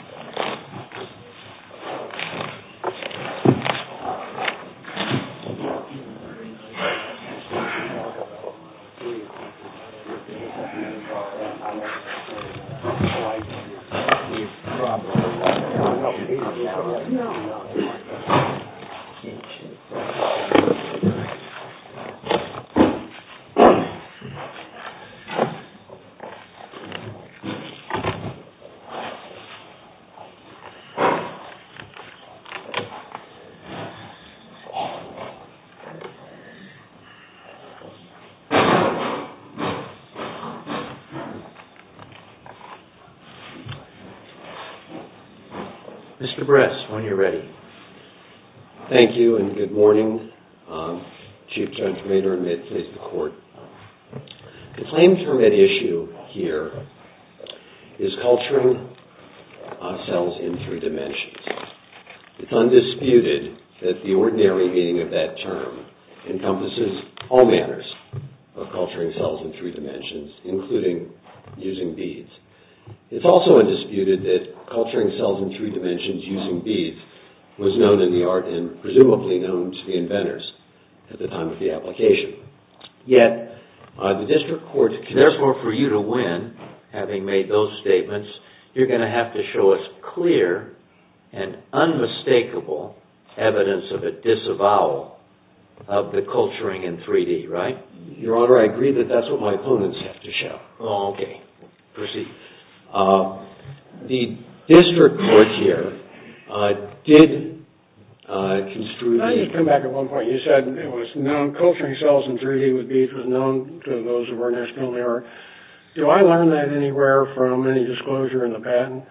MR. BRESS, WHEN YOU'RE READY. Thank you and good morning, Chief Judge Maynard, and may it please the Court. The claim term at issue here is culturing cells in three dimensions. It's undisputed that the ordinary meaning of that term encompasses all manners of culturing cells in three dimensions, including using beads. It's also undisputed that culturing cells in three dimensions using beads was known in the art and presumably known to the inventors at the time of the application. Yet, the District Court, therefore, for you to win, having made those statements, you're going to have to show us clear and unmistakable evidence of a disavowal of the culturing in 3D, right? Your Honor, I agree that that's what my opponents have to show. Okay. Proceed. The District Court here did construe the fact that culturing cells in 3D with beads was known to those of our national era. Do I learn that anywhere from any disclosure in the patent?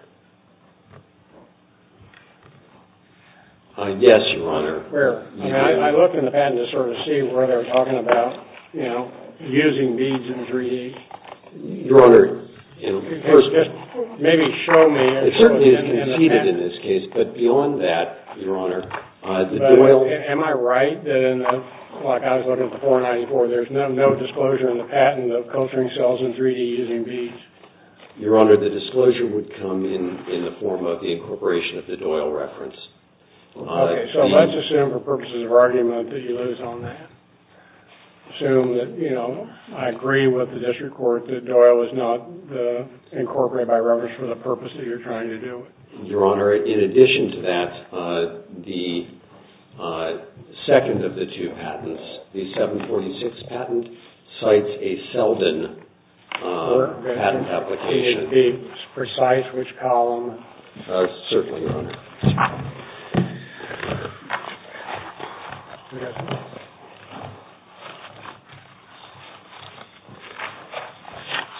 Yes, Your Honor. Where? I looked in the patent to sort of see where they're talking about using beads in 3D. Your Honor, in the first place. Maybe show me. It certainly is conceded in this case, but beyond that, Your Honor. Am I right that, like I was looking at the 494, there's no disclosure in the patent of culturing cells in 3D using beads? Your Honor, the disclosure would come in the form of the incorporation of the Doyle reference. Okay, so let's assume for purposes of argument that you lose on that. Assume that, you know, I agree with the District Court that Doyle is not incorporated by reference for the purpose that you're trying to do. Your Honor, in addition to that, the second of the two patents, the 746 patent, cites a Selden patent application. Can you be precise which column? Certainly, Your Honor.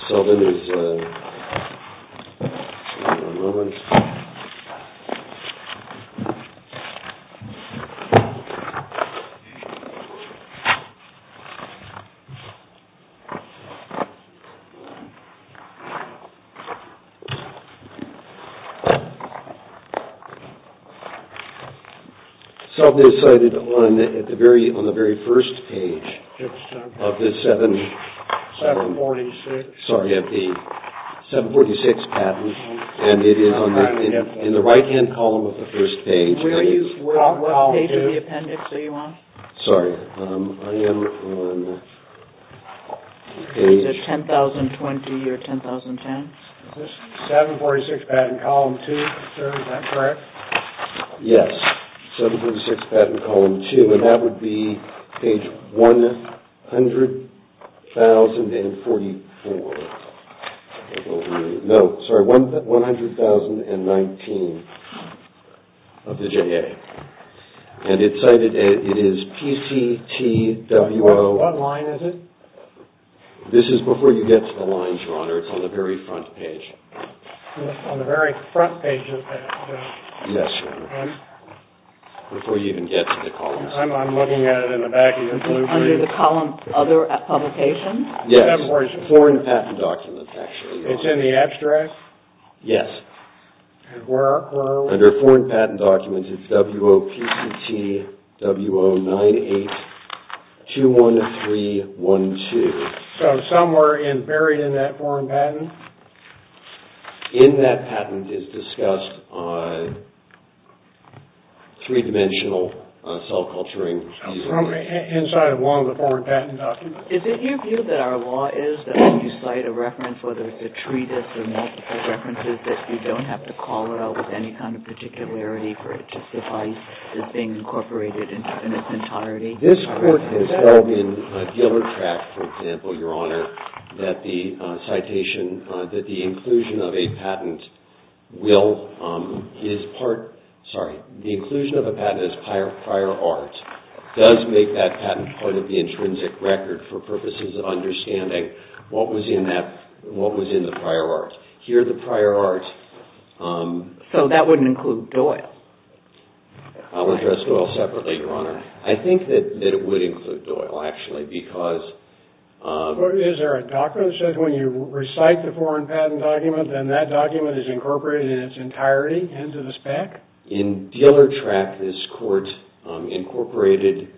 Selden is cited on the very first page of the 746 patent, and it is in the right-hand column of the first page. What page of the appendix are you on? Sorry, I am on page... Is it 10,020 or 10,010? Is this 746 patent column two, sir? Is that correct? Yes, 746 patent column two, and that would be page 100,044. No, sorry, 100,019 of the JA. And it's cited as PCTWO... What line is it? This is before you get to the lines, Your Honor. It's on the very front page. On the very front page of the... Yes, Your Honor, before you even get to the columns. I'm looking at it in the back of your blueprint. Under the column other publications? Yes, foreign patent documents, actually. It's in the abstract? Yes. And where are we? Under foreign patent documents, it's WOPCTWO9821312. So somewhere buried in that foreign patent? In that patent is discussed on three-dimensional cell culturing... From inside one of the foreign patent documents? Is it your view that our law is that when you cite a reference, whether it's a treatise or multiple references, that you don't have to call it out with any kind of particularity for it to suffice as being incorporated in its entirety? This court has held in Gillertract, for example, Your Honor, that the inclusion of a patent as prior art does make that patent part of the intrinsic record for purposes of understanding what was in the prior art. Here, the prior art... So that wouldn't include Doyle? I'll address Doyle separately, Your Honor. I think that it would include Doyle, actually, because... Is there a document that says when you recite the foreign patent document, then that document is incorporated in its entirety into the spec? In Gillertract, this court incorporated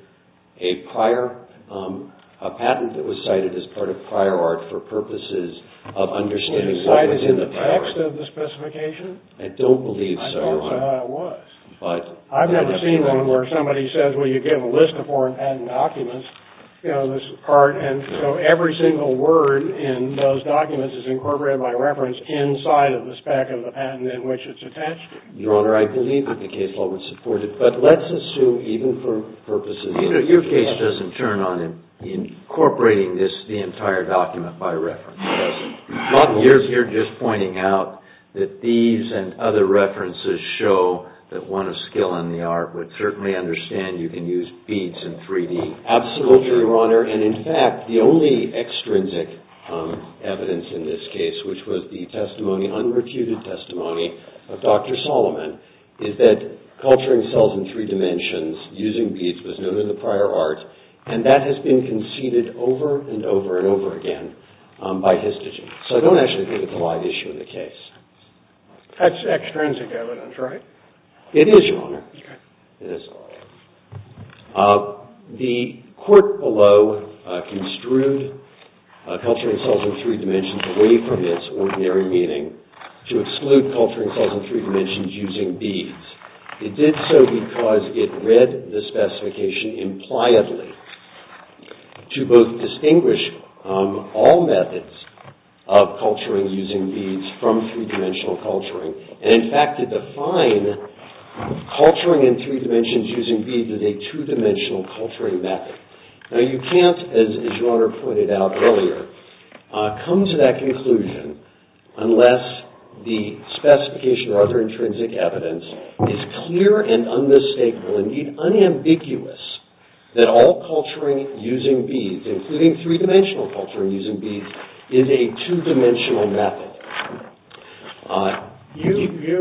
a patent that was cited as part of prior art for purposes of understanding what was in the prior art. Was it in the text of the specification? I don't believe so, Your Honor. I don't know how it was. I've never seen one where somebody says, well, you give a list of foreign patent documents, you know, this part, and so every single word in those documents is incorporated by reference inside of the spec of the patent in which it's attached. Your Honor, I believe that the case law would support it, but let's assume even for purposes... Your case doesn't turn on incorporating the entire document by reference. You're just pointing out that these and other references show that one of skill in the art would certainly understand you can use beads in 3D. Absolutely, Your Honor, and in fact, the only extrinsic evidence in this case, which was the testimony, unrecuted testimony of Dr. Solomon, is that culturing cells in three dimensions using beads was known in the prior art, and that has been conceded over and over and over again by histogen. So I don't actually think it's a live issue in the case. That's extrinsic evidence, right? It is, Your Honor. Okay. It is. The court below construed culturing cells in three dimensions away from its ordinary meaning to exclude culturing cells in three dimensions using beads. It did so because it read the specification impliedly to both distinguish all methods of culturing using beads from three-dimensional culturing, and in fact, it defined culturing in three dimensions using beads as a two-dimensional culturing method. Now you can't, as Your Honor pointed out earlier, come to that conclusion unless the specification or other intrinsic evidence is clear and unmistakable, indeed unambiguous, that all culturing using beads, including three-dimensional culturing using beads, is a two-dimensional method. You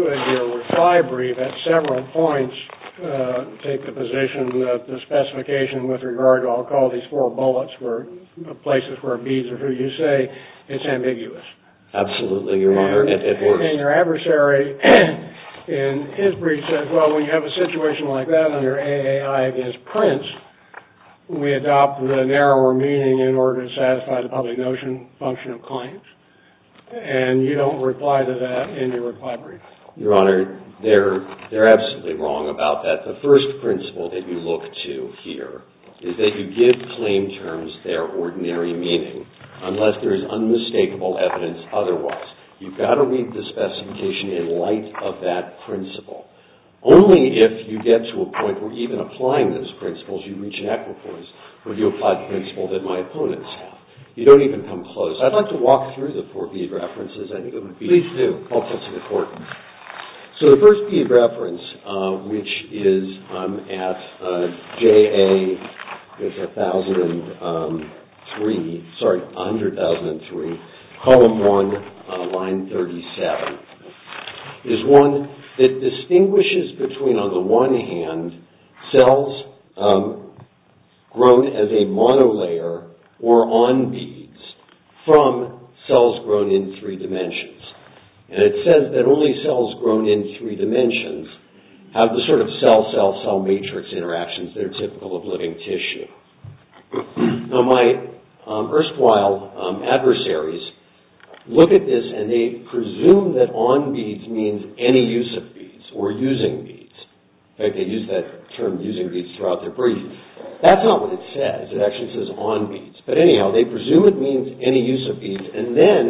and your retiree brief at several points take the position that the specification with regard to, I'll call these four bullets, places where beads are true, you say it's ambiguous. Absolutely, Your Honor, it works. And your adversary in his brief says, well, when you have a situation like that under AAI against Prince, we adopt the narrower meaning in order to satisfy the public notion function of claims. And you don't reply to that in your reply brief. Your Honor, they're absolutely wrong about that. The first principle that you look to here is that you give claim terms their ordinary meaning unless there is unmistakable evidence otherwise. You've got to read the specification in light of that principle. Only if you get to a point where even applying those principles you reach an equiforce where you apply the principle that my opponents have. You don't even come close. I'd like to walk through the four bead references. I think it would be helpful to the court. So the first bead reference, which is at JA 100003, column 1, line 37, is one that distinguishes between, on the one hand, cells grown as a monolayer or on beads from cells grown in three dimensions. And it says that only cells grown in three dimensions have the sort of cell-cell-cell matrix interactions that are typical of living tissue. Now my erstwhile adversaries look at this and they presume that on beads means any use of beads or using beads. In fact, they use that term using beads throughout their brief. That's not what it says. It actually says on beads. But anyhow, they presume it means any use of beads and then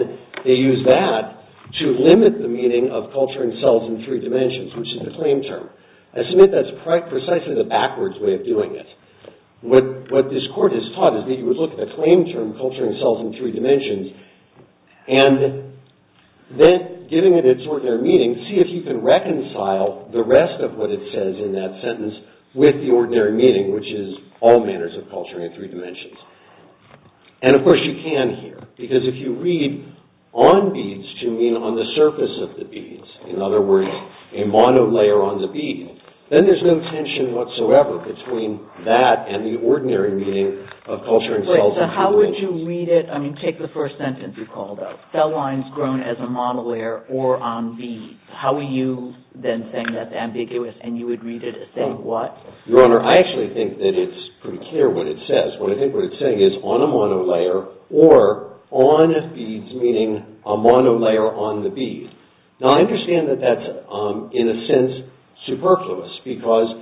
they use that to limit the meaning of culture and cells in three dimensions, which is the claim term. I submit that's precisely the backwards way of doing it. What this court has taught is that you would look at the claim term culture and cells in three dimensions and then giving it its ordinary meaning, see if you can reconcile the rest of what it says in that sentence with the ordinary meaning, which is all manners of culture in three dimensions. And of course you can here because if you read on beads to mean on the surface of the beads, in other words, a monolayer on the bead, then there's no tension whatsoever between that and the ordinary meaning of culture and cells in three dimensions. Wait, so how would you read it? I mean, take the first sentence you called out. Cell lines grown as a monolayer or on beads. How would you then say that's ambiguous and you would read it as saying what? Your Honor, I actually think that it's pretty clear what it says. What I think what it's saying is on a monolayer or on beads, meaning a monolayer on the bead. Now I understand that that's in a sense superfluous because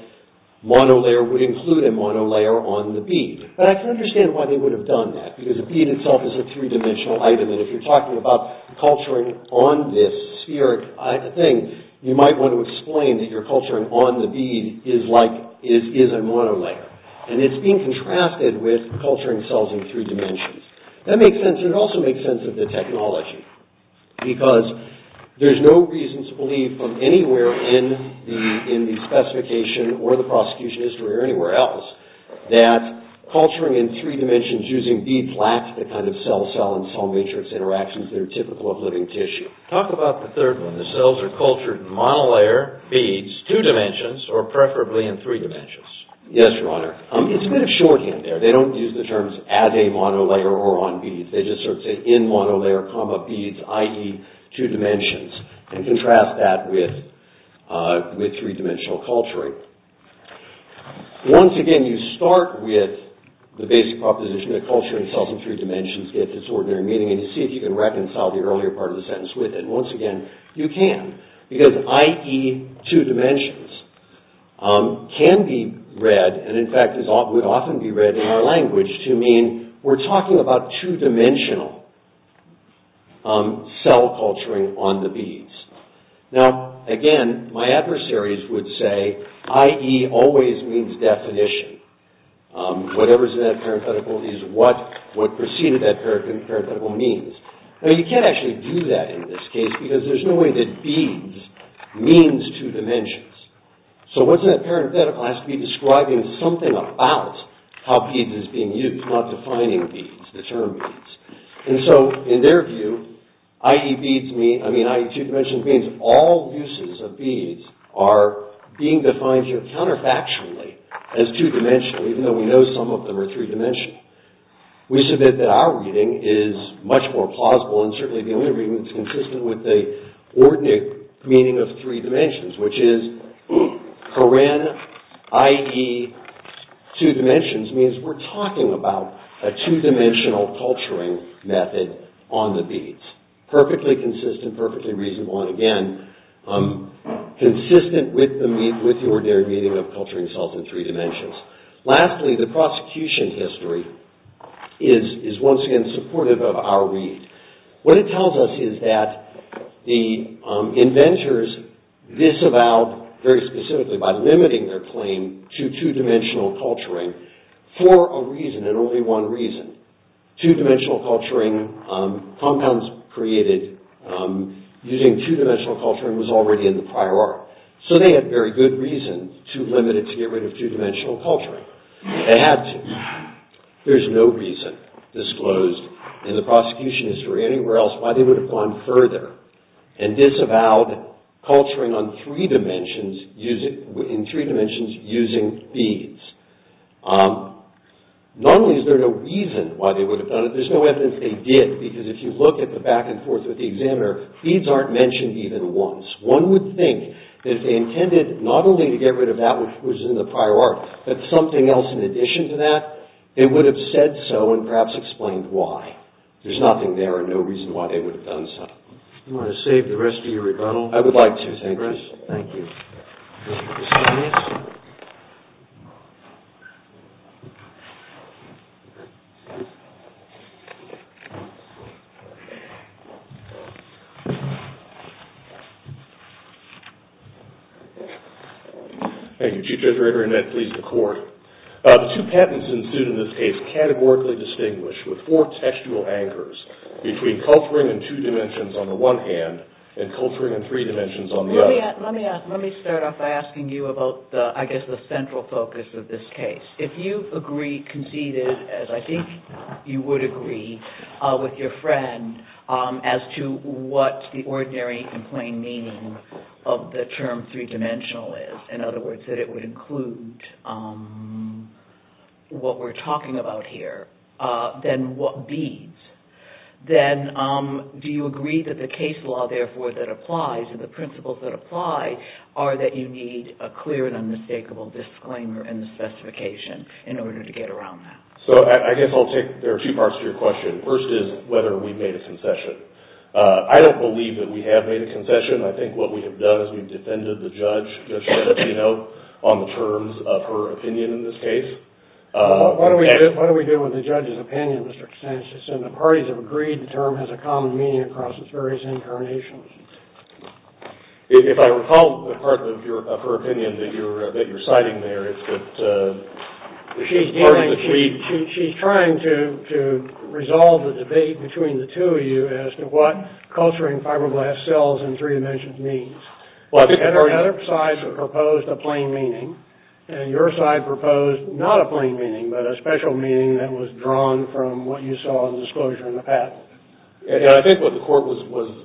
monolayer would include a monolayer on the bead. But I can understand why they would have done that because a bead itself is a three-dimensional item and if you're talking about culturing on this sphere, I think you might want to explain that your culturing on the bead is like, is a monolayer. And it's being contrasted with culturing cells in three dimensions. That makes sense. It also makes sense of the technology because there's no reason to believe from anywhere in the specification or the prosecution history or anywhere else that culturing in three dimensions using beads lacks the kind of cell-cell and cell-matrix interactions that are typical of living tissue. Talk about the third one. The cells are cultured in monolayer, beads, two dimensions or preferably in three dimensions. Yes, Your Honor. It's a bit of shorthand there. They don't use the terms as a monolayer or on beads. They just sort of say in monolayer, beads, i.e. two dimensions and contrast that with three-dimensional culturing. Once again, you start with the basic proposition that culturing cells in three dimensions get this ordinary meaning and you see if you can reconcile the earlier part of the sentence with it. Once again, you can because i.e. two dimensions can be read and in fact would often be read in our language to mean we're talking about two-dimensional cell culturing on the beads. Again, my adversaries would say i.e. always means definition. Whatever's in that parenthetical is what preceded that parenthetical means. You can't actually do that in this case because there's no way that beads means two dimensions. What's in that parenthetical has to be describing something about how beads is being used not defining beads, the term beads. In their view, i.e. two-dimensional beads all uses of beads are being defined here counterfactually as two-dimensional even though we know some of them are three-dimensional. We submit that our reading is much more plausible and certainly the only reading that's consistent with the ordinate meaning of three dimensions which is corinne, i.e. two dimensions means we're talking about a two-dimensional culturing method on the beads. Perfectly consistent, perfectly reasonable and again, consistent with the ordinary meaning of culturing cells in three dimensions. Lastly, the prosecution history is once again supportive of our read. What it tells us is that the inventors disavowed very specifically by limiting their claim to two-dimensional culturing for a reason and only one reason. Two-dimensional culturing compounds created using two-dimensional culturing was already in the prior art. So they had very good reasons to limit it to get rid of two-dimensional culturing. They had to. There's no reason disclosed in the prosecution history or anywhere else why they would have gone further and disavowed culturing on three dimensions in three dimensions using beads. Not only is there no reason why they would have done it there's no evidence they did because if you look at the back and forth with the examiner beads aren't mentioned even once. One would think that if they intended not only to get rid of that which was in the prior art but something else in addition to that they would have said so and perhaps explained why. There's nothing there and there's no reason why they would have done so. Do you want to save the rest of your rebuttal? I would like to. Thank you. Thank you. Thank you. Chief Judge Rayburn that please the court. Two patents ensued in this case categorically distinguished with four textual anchors between culturing in two dimensions on the one hand and culturing in three dimensions on the other. Let me start off by asking you about I guess the central focus of this case. If you agree conceded as I think you would agree with your friend as to what of the term three dimensional is in other words that it would include what we're talking about here then what beads do you think would have been used in this case then do you agree that the case law therefore that applies and the principles that apply are that you need a clear and unmistakable disclaimer and the specification in order to get around that. So I guess I'll take there are two parts to your question. First is whether we made a concession. I don't believe that we have made a concession. I think what we have done is we've defended the judge on the terms of her opinion in this case. What do we do with the judge's opinion Mr. Kostantzis and the parties have agreed the term has a common meaning across its various incarnations. If I recall the part of your of her opinion that you're that you're citing there it's that she's dealing she's trying to resolve the debate between the two of you as to what culturing fibroblast cells in three dimensions means. Well I think there are other sides that proposed a plain meaning and your side proposed not a plain meaning but a special meaning that was drawn from what you saw in the disclosure in the patent. I think what the court was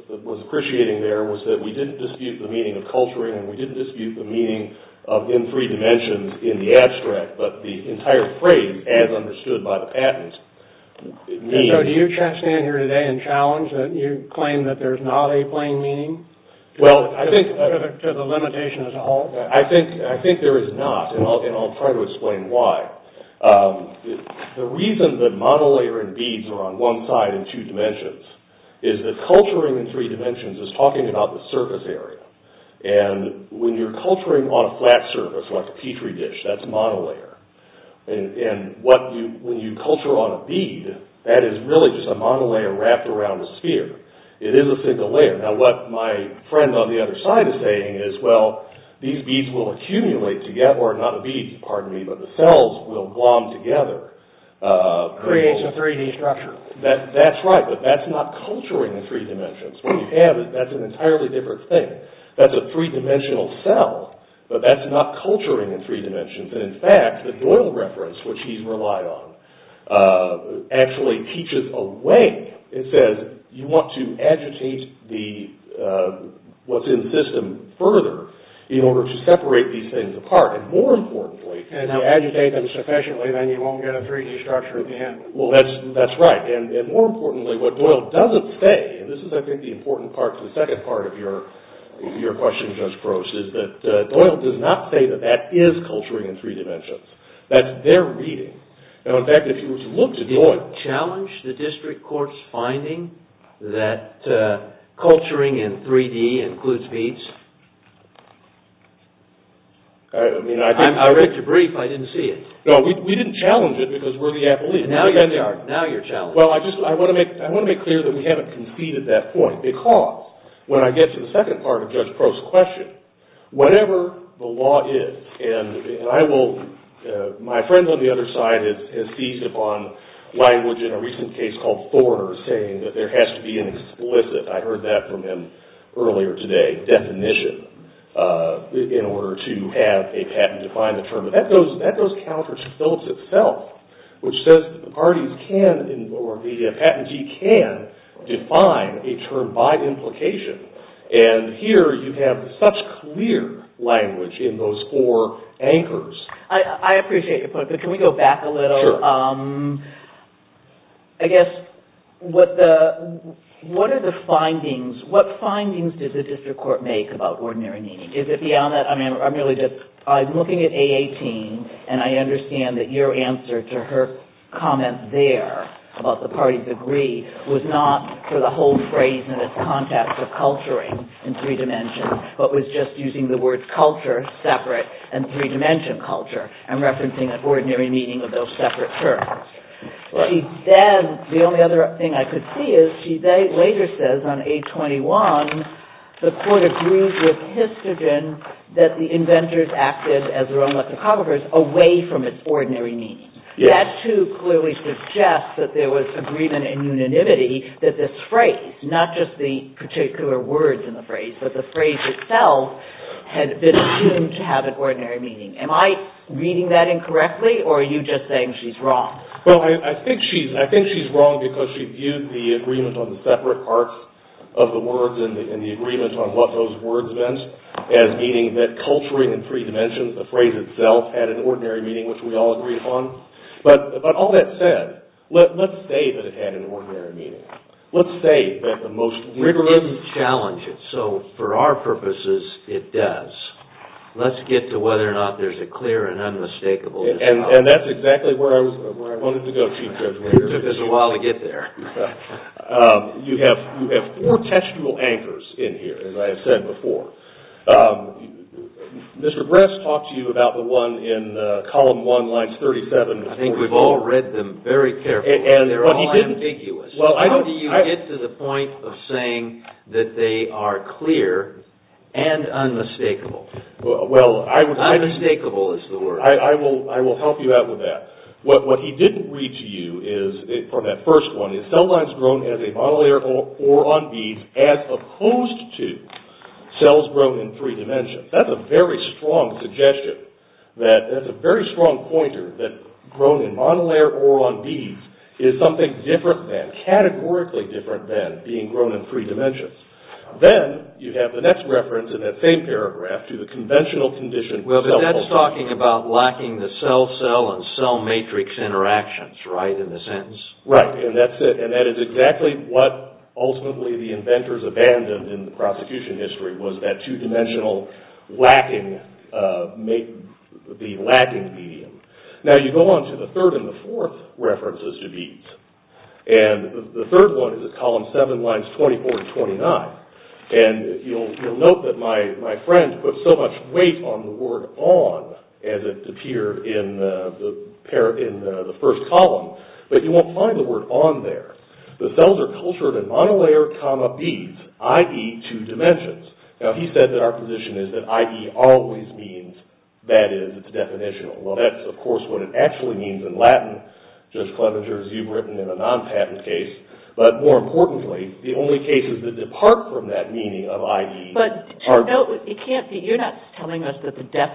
appreciating there was that we didn't dispute the meaning of culturing and we didn't dispute the meaning of in three dimensions in the abstract but the entire frame as understood by the patent means. So do you stand here today and challenge that you claim that there's not a plain meaning to the limitation as a whole? Well I think I think there is not and I'll try to explain why. The reason that monolayer and beads are on one side in two dimensions is that culturing in three dimensions is talking about the surface area and when you're culturing on a flat surface like a petri dish that's monolayer and what when you culture on a bead that is really just a monolayer wrapped around a sphere. It is a single layer. Now what my friend on the other side is saying is well these beads will accumulate together or not a bead pardon me but the cells will bond together creates a 3D structure. That's right but that's not culturing in three dimensions. What you have is that's an entirely different thing. That's a three dimensional cell but that's not culturing in three dimensions and in fact the Doyle reference which he's relied on actually teaches a way it says you want to agitate what's in the system further in order to separate these things apart and more importantly if you agitate them sufficiently then you won't get a 3D structure at the end. Well that's right and more importantly what Doyle doesn't say and this is I think the important part to the second part of your question Judge Gross is that Doyle does not say that that is culturing in three dimensions. That's their reading. Now in fact if you were to look at Doyle would you challenge the district court's finding that culturing in 3D includes beads? I mean I think I read your brief I didn't see it. No we didn't challenge it because we're the appellate. And now you're challenged. Well I just I want to make clear that we haven't conceded that point because when I get to the second part of Judge Gross' question whatever the law is and I will my friends on the other side of this has feast upon language in a recent case called Thorner saying that there has to be an explicit I heard that from him earlier today definition in order to have a patent define the term but that goes that goes counter to Phillips itself which says parties can or the patentee can define a term by implication and here you have such clear language in those four anchors. I appreciate your point but can we go back a little Sure I guess what the what are the findings what findings does the district court make about ordinary meaning is it beyond that I mean I'm really just I'm looking at A18 and I understand that your answer to her comment there about the party degree was not for the whole of the phrase and its context of culturing in three dimensions but was just using the words culture separate and three dimension culture and referencing an ordinary meaning of those separate terms she then the only other thing I could see is she later says on A21 the court agrees with histogen that the inventors acted as their own lexicographers away from its ordinary meaning that too clearly suggests that there was agreement and unanimity that this phrase not just the particular words in the phrase but the phrase itself had been assumed to have an ordinary meaning am I reading that incorrectly or are you just saying she's wrong I think she's wrong because she viewed the agreement on the separate parts of the words and the agreement on what those words meant as meaning that culturing in three dimensions the phrase itself had an ordinary meaning but all that said let's say that it had an ordinary meaning let's say that the most rigorous challenge it so for our purposes it does let's get to whether or not there's a clear and unmistakable and that's exactly where I wanted to go it took a while to get there you have four textual anchors in here as I said before Mr. Bress talked to you about the one in column one lines 37 I think we've all read them very carefully they're all ambiguous how do you get to the point of saying that they are clear and unmistakable unmistakable is the word I will help you out with that what he didn't read to you from that first one is cell lines grown as a monolayer or on beads as opposed to cells grown in three dimensions that's a very strong suggestion that's a very strong pointer that grown in monolayer or on beads is something different than categorically different than being grown in three dimensions then you have the next reference in that same paragraph to the conventional condition well that's talking about lacking the cell cell and cell matrix interactions right in the sentence right and that's it and that is exactly what ultimately the inventors abandoned in the prosecution history was that two dimensional lacking the lacking medium now you go on to the third and the fourth references to beads and the third one is column seven lines 24 and 29 and you'll note that my friend put so much weight on the word on as it appeared in the first column but you won't find the word on there the cells are cultured in monolayer monolayer comma beads i.e. two dimensions now he said that our position is that i.e. always means that is definitional well that's of course what it actually means in latin Judge Clevenger as you've written in a non-patent case but more importantly the only cases that depart from that meaning of i.e. are you're not telling us that the culture in 3D with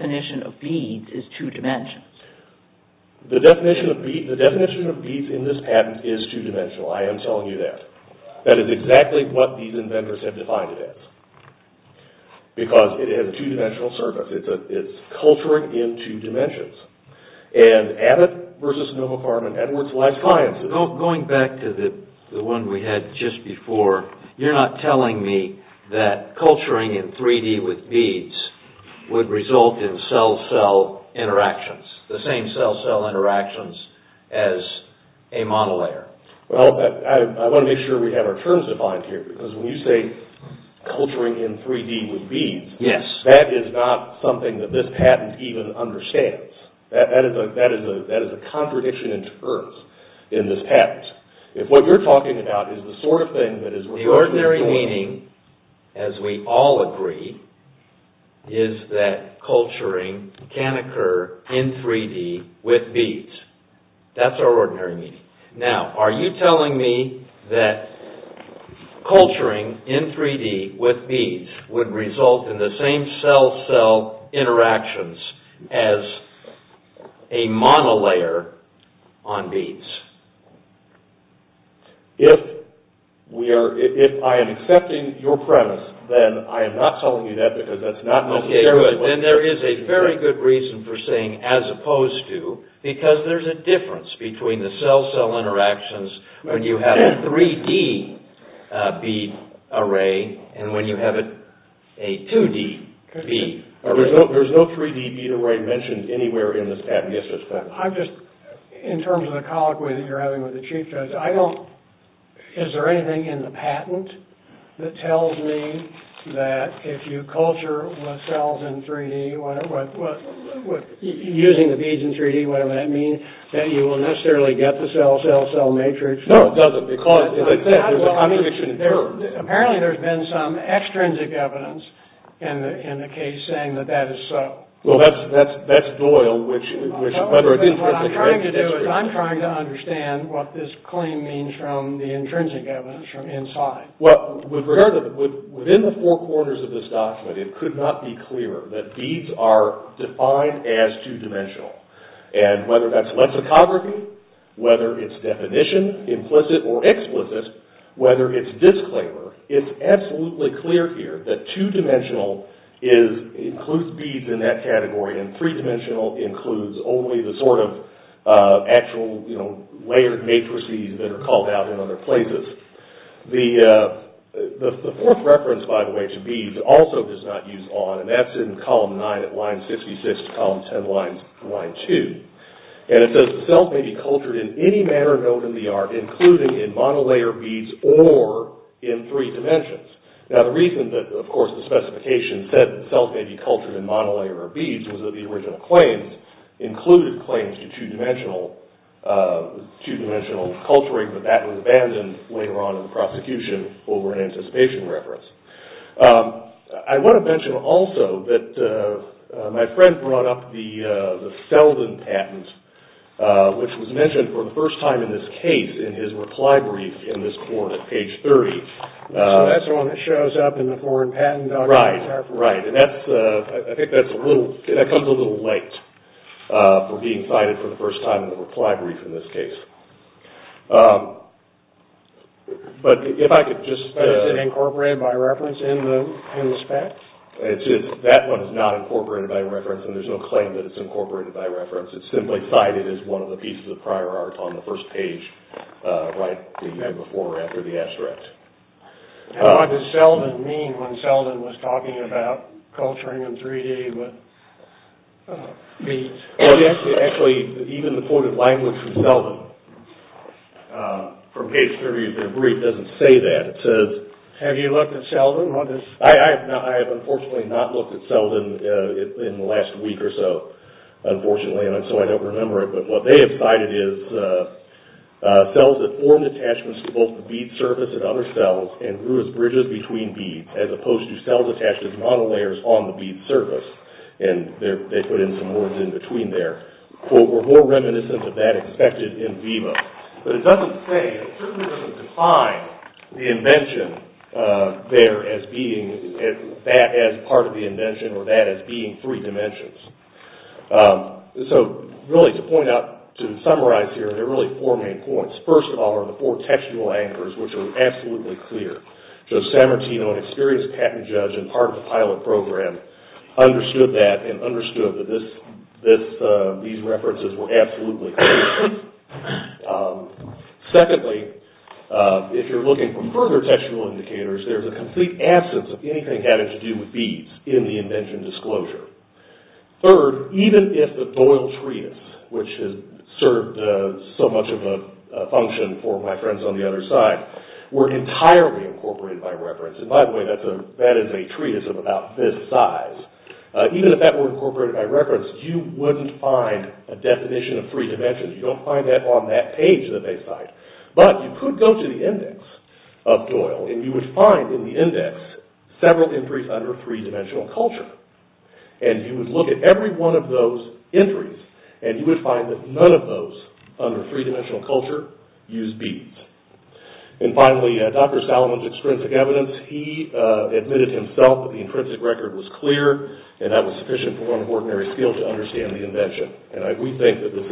beads would result in cell cell interactions the same cell cell well I want to make sure we have our terms defined so that we can make sure that we can define the terms that are defined here because when you say culturing in 3D with beads that is not something that this patent even understands that is a contradiction in terms in this patent if what we're talking about is the sort of culturing in 3D with beads would result in the same cell cell interactions as a monolayer on beads if we are if I am accepting your premise then I am not telling you that because that's not necessarily then there is a very good reason for saying as opposed to because there's a difference between the 3D bead array and when you have a 2D bead there's no 3D bead array mentioned anywhere in this patent I'm just in terms of the colloquy that you're having with the chief judge I don't is there anything in the patent that tells me that if you culture cells in 3D using the beads in 3D what does that mean that you will necessarily get the cell cell cell matrix no it doesn't because apparently there's been some extrinsic evidence in the case saying that that is so well that's Doyle which I'm trying to understand what this claim means from the intrinsic evidence from inside well within the four corners of this document it could not be clear that beads are defined as two-dimensional and whether that's lexicography whether it's definition implicit or explicit whether it's disclaimer it's absolutely clear here that two-dimensional is includes beads in that it's not used out in other places the fourth reference by the way to beads also does not use on and that's in column 9 line 66 column 10 line 2 and it says cells may be cultured in any manner known in the art including in monolayer beads or in three dimensions now the reason that of course the specification said that cells may be cultured in monolayer beads was that the original claims included claims to two-dimensional two-dimensional culturing but that was abandoned later on in the prosecution over an anticipation reference I want to mention also that my friend brought up the Selden patent which was mentioned for the first time in this case in his reply brief in this corner page 30 so that's the one that shows up in the foreign patent document right and that's I think that's a little that comes a little late for being cited for the first time in the reply brief in this case but if I could just is it incorporated by reference in the spec that one is not incorporated by reference and there's no claim that it's incorporated by reference it's simply cited as one of the pieces of prior art on the first page right before or after the asterisk what does Selden mean when Selden was talking about culturing in 3D with beads actually even the quoted language of Selden from page 30 of the brief doesn't say that it says have you looked at Selden on this I have unfortunately not looked at Selden in the last week or so unfortunately and so I don't remember it but what they have cited is cells that formed attachments to both the bead surface and other cells and grew as bridges between beads as opposed to cells attached as monolayers on the bead surface and they put in some words in between there quote were more reminiscent of that expected in Viva but it doesn't say it certainly doesn't define the invention there as being that as part of the invention or that as being three dimensions so really to point out to summarize here there are really four main points first of all there are four textual anchors which are absolutely clear so Sam Martino an experienced patent judge and part of the pilot program understood that and understood that this these references were absolutely clear secondly if you're looking for further textual indicators there's a complete absence of anything having to do with beads in the invention disclosure third even if the Doyle treatise which has served so much of a function for my friends on the other side were entirely incorporated by reference and by the way that is a treatise of about this size even if that were incorporated by reference you wouldn't find a definition of three dimensions you don't find that on that page that they cite but you could go to the index of Doyle and you would find in the index several entries that none of those under three dimensional culture use beads and finally Dr. Salomon's extrinsic evidence he admitted himself that the intrinsic record was clear and that was sufficient for an ordinary skill to understand the invention and we think that this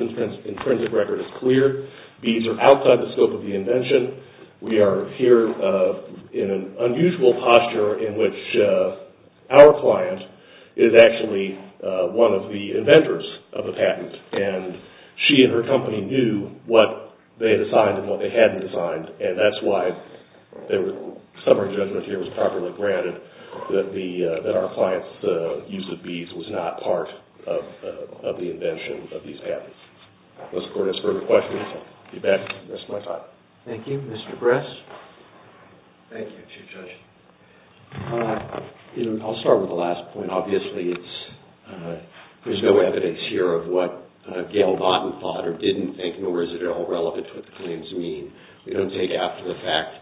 intrinsic record is clear beads are outside the scope of the invention we are here in an unusual posture in which our client is actually one of the inventors of the patent and she and her company knew what they had designed and what they hadn't designed and that's why some of our judgement here was properly granted that our client's use of beads was not part of the invention of these patents unless the court has further questions I'll be back in the rest of my time thank you thank you Mr. Bress thank you Chief Judge I'll start with the last point obviously there's no evidence here of what Gail Botten thought or didn't think nor is it at all relevant to what the claims mean we don't take after the fact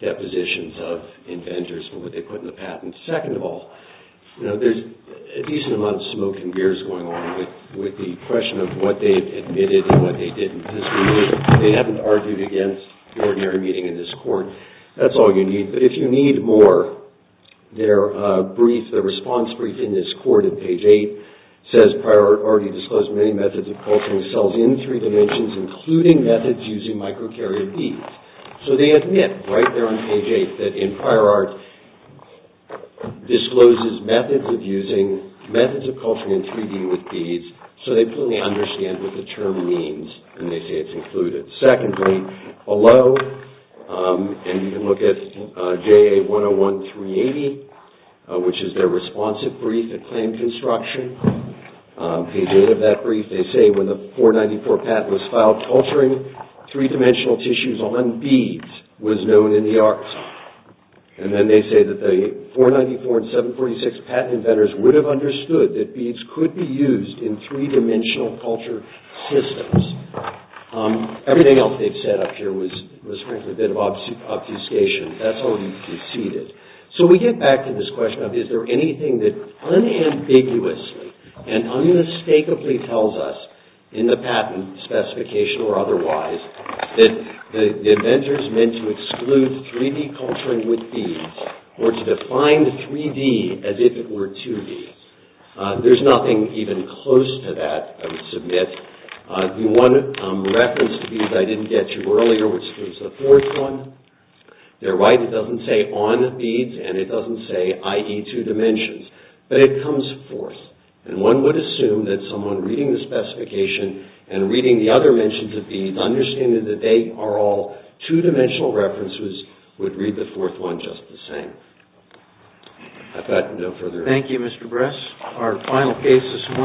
depositions of inventors of what they put in the patent second of all there's a decent amount of smoke and fire that's all you need but if you need more their response brief in this court page 8 says Prior Art already disclosed many methods of culturing cells in 3D including methods using microcarrier beads so they admit right there on page 8 that in Prior Art discloses methods of culturing cells below and you can look at JA 101 380 which is their responsive brief at Claim Construction page 8 of that brief they say when the 494 patent was filed culturing 3D tissues on beads was known in the archives and then they say that the 494 and 746 patent inventors would have understood that beads could be used in three-dimensional culture systems everything else they've said up here was frankly a bit of obfuscation that's already preceded so we get back to this question of is there anything that unambiguously and unmistakably tells us in the patent specification or otherwise that the inventors meant to exclude 3D culturing with beads or to define 3D as if it were 2D there's nothing even close to that submit the one reference to beads I didn't get you earlier the fourth one they're right it doesn't say on beads and it doesn't say i.e. two dimensions but it comes forth and one would assume that someone reading the specification and reading the other mentions of beads understanding that they are all two-dimensional references would read the fourth one just the same I've got no further questions thank you thank you thank you Mr. Bress with beads and it doesn't say on beads and it doesn't say on beads and it doesn't say on beads and it doesn't say on beads and it doesn't say on beads and it does not say on beads and it